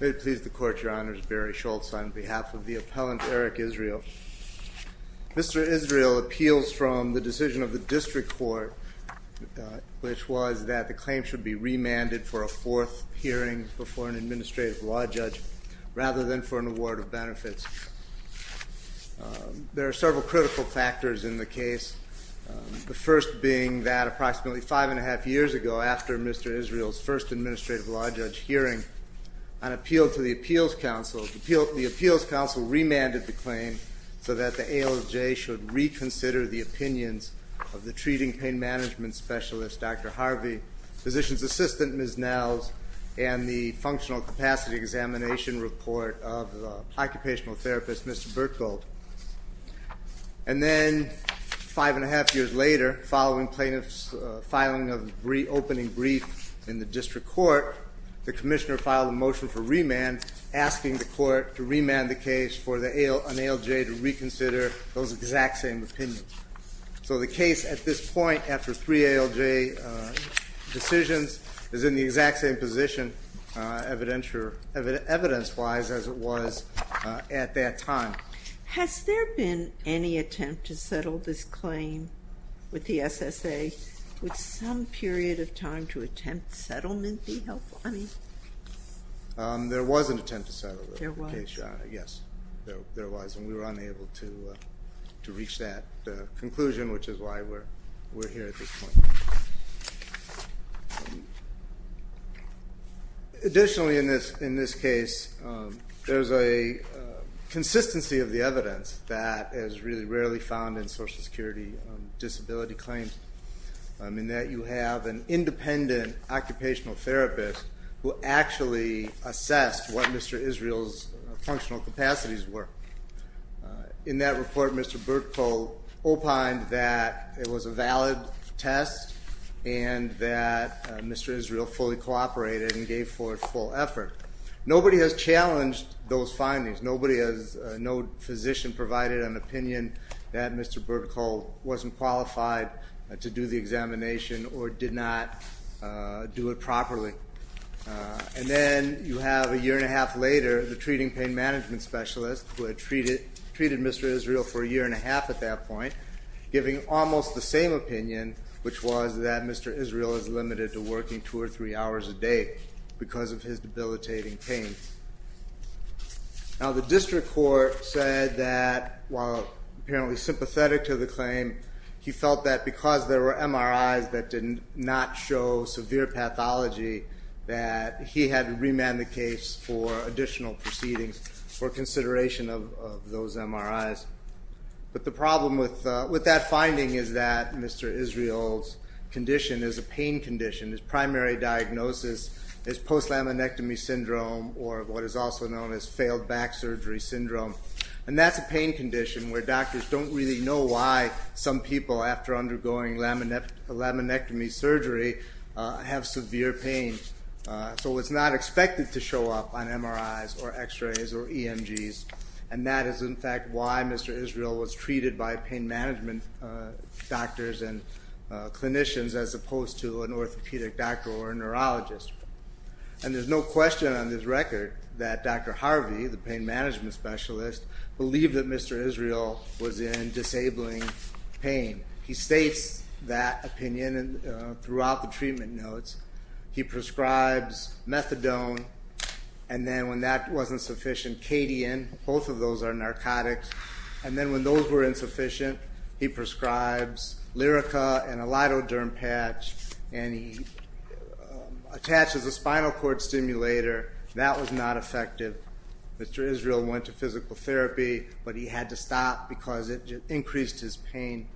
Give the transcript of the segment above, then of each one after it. May it please the Court, Your Honors, Barry Schultz on behalf of the appellant Eric Israel. Mr. Israel appeals from the decision of the District Court, which was that the claim should be remanded for a fourth hearing before an administrative law judge, rather than for an award of benefits. There are several critical factors in the case, the first being that approximately five and a half years ago, after Mr. Israel's first administrative law judge hearing, on appeal to the Appeals Council, the Appeals Council remanded the claim so that the ALJ should reconsider the opinions of the treating pain management specialist, Dr. Harvey, physician's assistant, Ms. Nels, and the functional capacity examination report of the occupational therapist, Mr. Bertgold. And then, five and a half years later, following plaintiff's filing of reopening brief in the District Court, the commissioner filed a motion for remand, asking the court to remand the case for an ALJ to reconsider those exact same opinions. So the case at this point, after three ALJ decisions, is in the exact same position, evidence-wise, as it was at that time. Has there been any attempt to settle this claim with the SSA? Would some period of time to attempt settlement be helpful? There was an attempt to settle the case, yes. There was, and we were unable to reach that conclusion, which is why we're here at this point. Additionally, in this case, there's a consistency of the evidence that is really rarely found in Social Security disability claims, in that you have an independent occupational therapist who actually assessed what Mr. Israel's functional capacities were. In that report, Mr. Bertgold opined that it was a valid test and that Mr. Israel fully cooperated and gave forth full effort. Nobody has challenged those findings. No physician provided an opinion that Mr. Bertgold wasn't qualified to do the examination or did not do it properly. And then you have, a year and a half later, the treating pain management specialist, who had treated Mr. Israel for a year and a half at that point, giving almost the same opinion, which was that Mr. Israel is limited to working two or three hours a day because of his debilitating pain. Now the district court said that, while apparently sympathetic to the claim, he felt that because there were MRIs that did not show severe pathology, that he had to remand the case for additional proceedings for consideration of those MRIs. But the problem with that finding is that Mr. Israel's condition is a pain condition. His primary diagnosis is post-laminectomy syndrome, or what is also known as failed back surgery syndrome. And that's a pain condition where doctors don't really know why some people, after undergoing laminectomy surgery, have severe pain. So it's not expected to show up on MRIs or x-rays or EMGs. And that is, in fact, why Mr. Israel was treated by pain management doctors and clinicians as opposed to an orthopedic doctor or a neurologist. And there's no question on this record that Dr. Harvey, the pain management specialist, believed that Mr. Israel was in disabling pain. He states that opinion throughout the treatment notes. He prescribes methadone, and then when that wasn't sufficient, cadian. Both of those are narcotics. And then when those were insufficient, he prescribes Lyrica and a lidoderm patch, and he attaches a spinal cord stimulator. That was not effective. Mr. Israel went to physical therapy, but he had to stop because it increased his pain.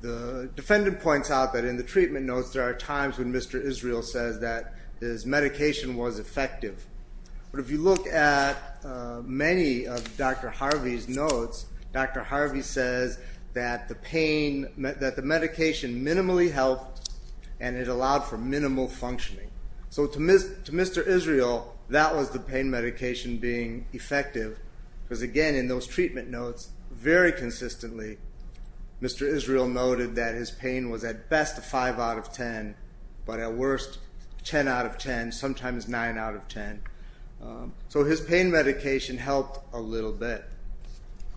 The defendant points out that in the treatment notes, there are times when Mr. Israel says that his medication was effective. But if you look at many of Dr. Harvey's notes, Dr. Harvey says that the pain—that the medication minimally helped, and it allowed for minimal functioning. So to Mr. Israel, that was the pain medication being effective, because again, in those treatment notes, very consistently, Mr. Israel noted that his pain was at best a 5 out of 10, but at worst, 10 out of 10, sometimes 9 out of 10. So his pain medication helped a little bit.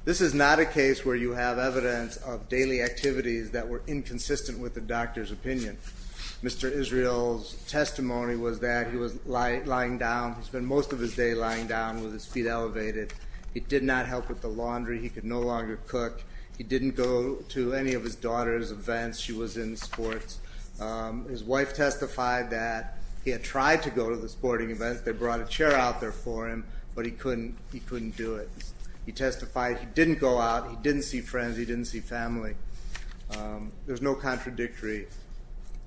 This is not a case where you have evidence of daily activities that were inconsistent with the doctor's opinion. Mr. Israel's testimony was that he was lying down. He spent most of his day lying down with his feet elevated. He did not help with the laundry. He could no longer cook. He didn't go to any of his daughter's events. She was in sports. His wife testified that he had tried to go to the sporting events. They brought a chair out there for him, but he couldn't do it. He testified he didn't go out. He didn't see friends. He didn't see family. There's no contradictory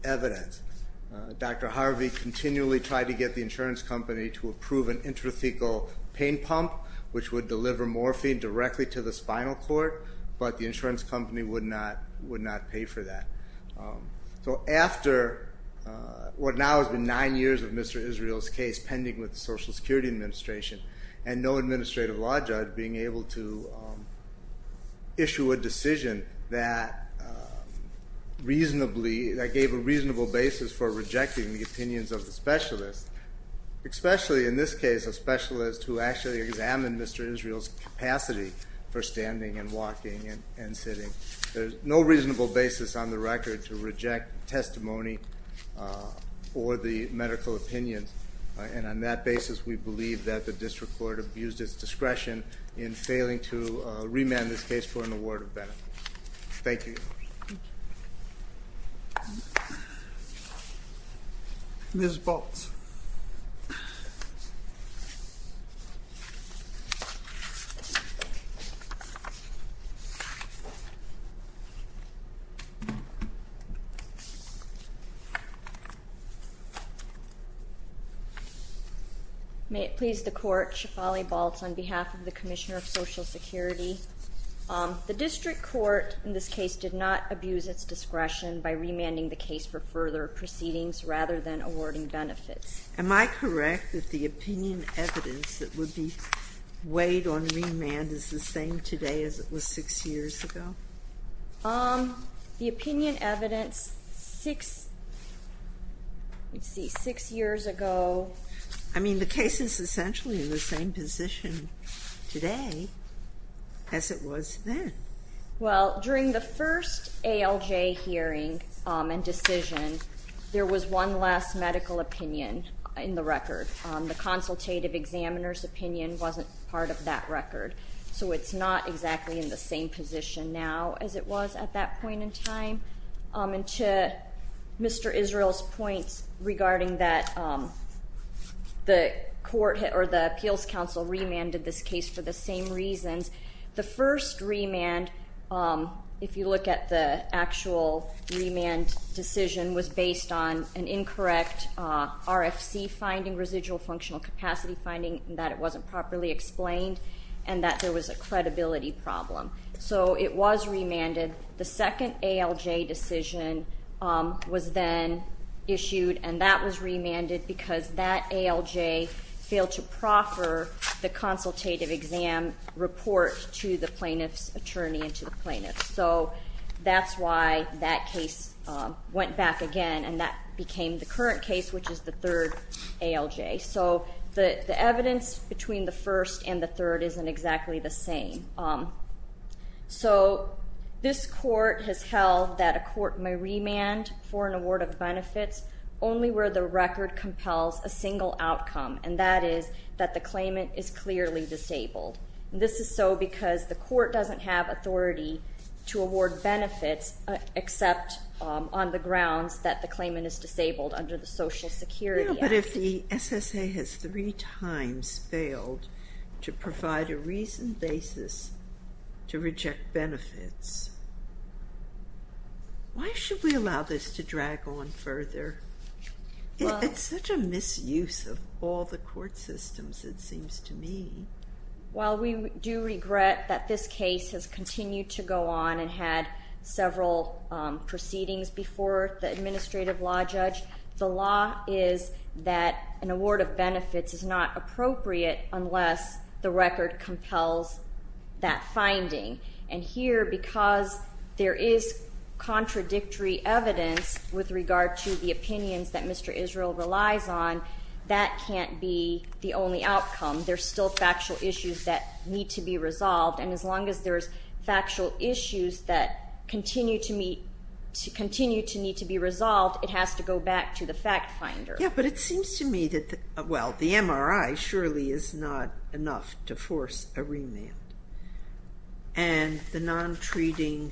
evidence. Dr. Harvey continually tried to get the insurance company to approve an intrathecal pain pump, which would deliver morphine directly to the spinal cord, but the insurance company would not pay for that. So after what now has been nine years of Mr. Israel's case pending with the Social Security Administration, and no administrative law judge being able to issue a decision that gave a reasonable basis for rejecting the opinions of the specialist, especially in this case a specialist who actually examined Mr. Israel's capacity for standing and walking and sitting, there's no reasonable basis on the record to reject testimony or the medical opinion. And on that basis, we believe that the district court abused its discretion in failing to remand this case for an award of benefits. Thank you. Ms. Baltz. May it please the court, Shefali Baltz on behalf of the Commissioner of Social Security. The district court in this case did not abuse its discretion by remanding the case for further proceedings rather than awarding benefits. Am I correct that the opinion evidence that would be weighed on remand is the same today as it was six years ago? The opinion evidence six, let's see, six years ago. I mean, the case is essentially in the same position today as it was then. Well, during the first ALJ hearing and decision, there was one less medical opinion in the record. The consultative examiner's opinion wasn't part of that record. So it's not exactly in the same position now as it was at that point in time. And to Mr. Israel's points regarding that the court or the appeals council remanded this case for the same reasons. The first remand, if you look at the actual remand decision, was based on an incorrect RFC finding, residual functional capacity finding, that it wasn't properly explained and that there was a credibility problem. So it was remanded. The second ALJ decision was then issued, and that was remanded because that ALJ failed to proffer the consultative exam report to the plaintiff's attorney and to the plaintiff. So that's why that case went back again, and that became the current case, which is the third ALJ. So the evidence between the first and the third isn't exactly the same. So this court has held that a court may remand for an award of benefits only where the record compels a single outcome, and that is that the claimant is clearly disabled. This is so because the court doesn't have authority to award benefits except on the grounds that the claimant is disabled under the Social Security Act. But if the SSA has three times failed to provide a reasoned basis to reject benefits, why should we allow this to drag on further? It's such a misuse of all the court systems, it seems to me. Well, we do regret that this case has continued to go on and had several proceedings before the administrative law judge. The law is that an award of benefits is not appropriate unless the record compels that finding. And here, because there is contradictory evidence with regard to the opinions that Mr. Israel relies on, that can't be the only outcome. There's still factual issues that need to be resolved, and as long as there's factual issues that continue to need to be resolved, it has to go back to the fact finder. Yeah, but it seems to me that, well, the MRI surely is not enough to force a remand. And the non-treating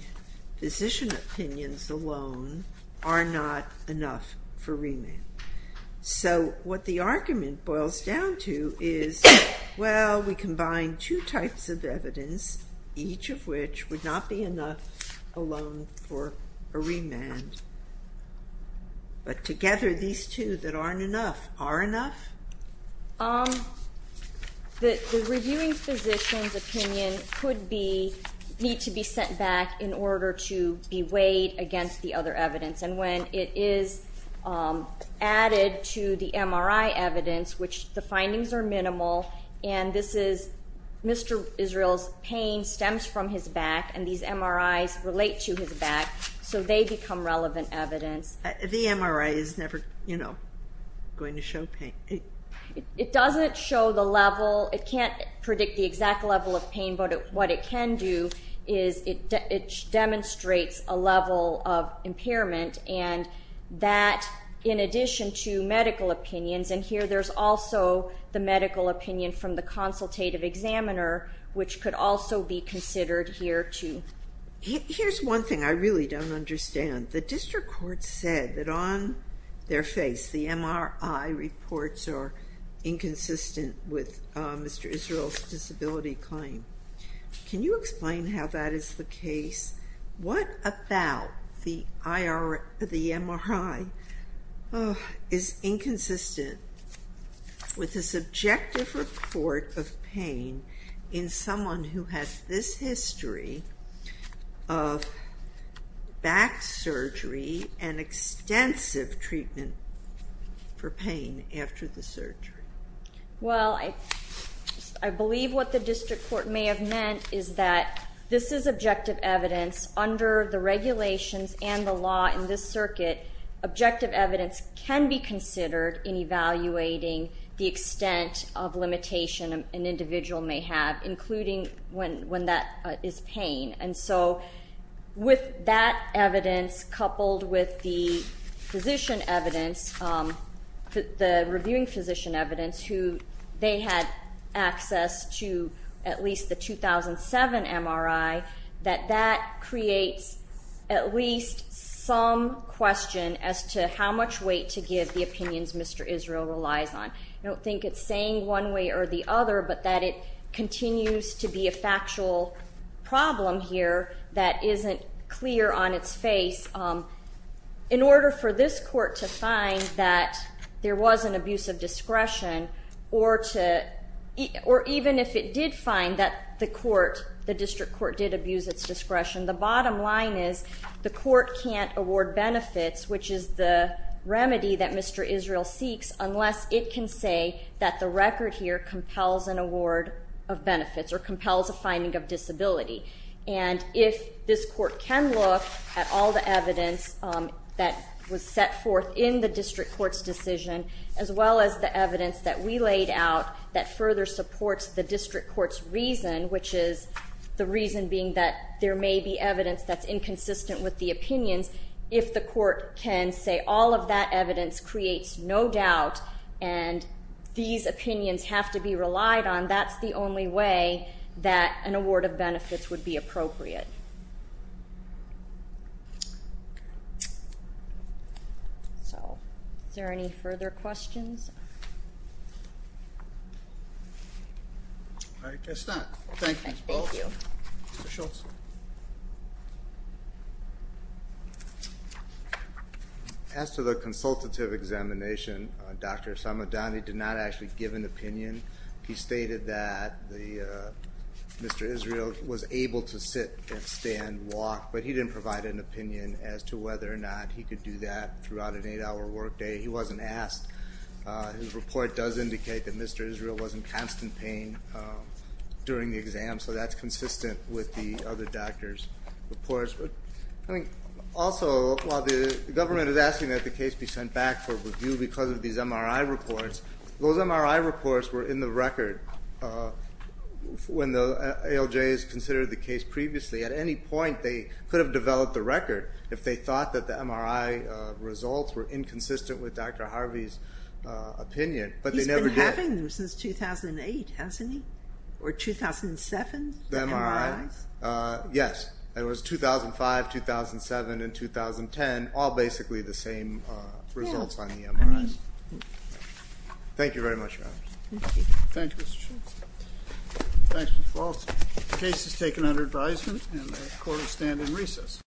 physician opinions alone are not enough for remand. So what the argument boils down to is, well, we combine two types of evidence, each of which would not be enough alone for a remand. But together, these two that aren't enough, are enough? The reviewing physician's opinion could need to be sent back in order to be weighed against the other evidence. And when it is added to the MRI evidence, which the findings are minimal, and this is Mr. Israel's pain stems from his back, and these MRIs relate to his back, so they become relevant evidence. The MRI is never, you know, going to show pain. It doesn't show the level, it can't predict the exact level of pain, but what it can do is it demonstrates a level of impairment. And that, in addition to medical opinions, and here there's also the medical opinion from the consultative examiner, which could also be considered here too. Here's one thing I really don't understand. The district court said that on their face, the MRI reports are inconsistent with Mr. Israel's disability claim. Can you explain how that is the case? What about the MRI is inconsistent with the subjective report of pain in someone who has this history of back surgery and extensive treatment for pain after the surgery? Well, I believe what the district court may have meant is that this is objective evidence under the regulations and the law in this circuit. Objective evidence can be considered in evaluating the extent of limitation an individual may have, including when that is pain. And so with that evidence coupled with the physician evidence, the reviewing physician evidence, who they had access to at least the 2007 MRI, that that creates at least some question as to how much weight to give the opinions Mr. Israel relies on. I don't think it's saying one way or the other, but that it continues to be a factual problem here that isn't clear on its face. In order for this court to find that there was an abuse of discretion, or even if it did find that the district court did abuse its discretion, the bottom line is the court can't award benefits, which is the remedy that Mr. Israel seeks, unless it can say that the record here compels an award of benefits or compels a finding of disability. And if this court can look at all the evidence that was set forth in the district court's decision, as well as the evidence that we laid out that further supports the district court's reason, which is the reason being that there may be evidence that's inconsistent with the opinions, if the court can say all of that evidence creates no doubt and these opinions have to be relied on, that's the only way that an award of benefits would be appropriate. So, is there any further questions? I guess not. Thank you. Thank you. Mr. Schultz. As to the consultative examination, Dr. Samadani did not actually give an opinion. He stated that Mr. Israel was able to sit and stand, walk, but he didn't provide an opinion as to whether or not he could do that throughout an eight-hour workday. He wasn't asked. His report does indicate that Mr. Israel was in constant pain during the exam, so that's consistent with the other doctors' reports. Also, while the government is asking that the case be sent back for review because of these MRI reports, those MRI reports were in the record when the ALJs considered the case previously. At any point, they could have developed the record if they thought that the MRI results were inconsistent with Dr. Harvey's opinion, but they never did. He's been having them since 2008, hasn't he? Or 2007, the MRIs? Yes. It was 2005, 2007, and 2010, all basically the same results on the MRIs. Thank you very much, Your Honor. Thank you, Mr. Shultz. Thanks, Ms. Walts. The case is taken under advisement, and the court will stand in recess.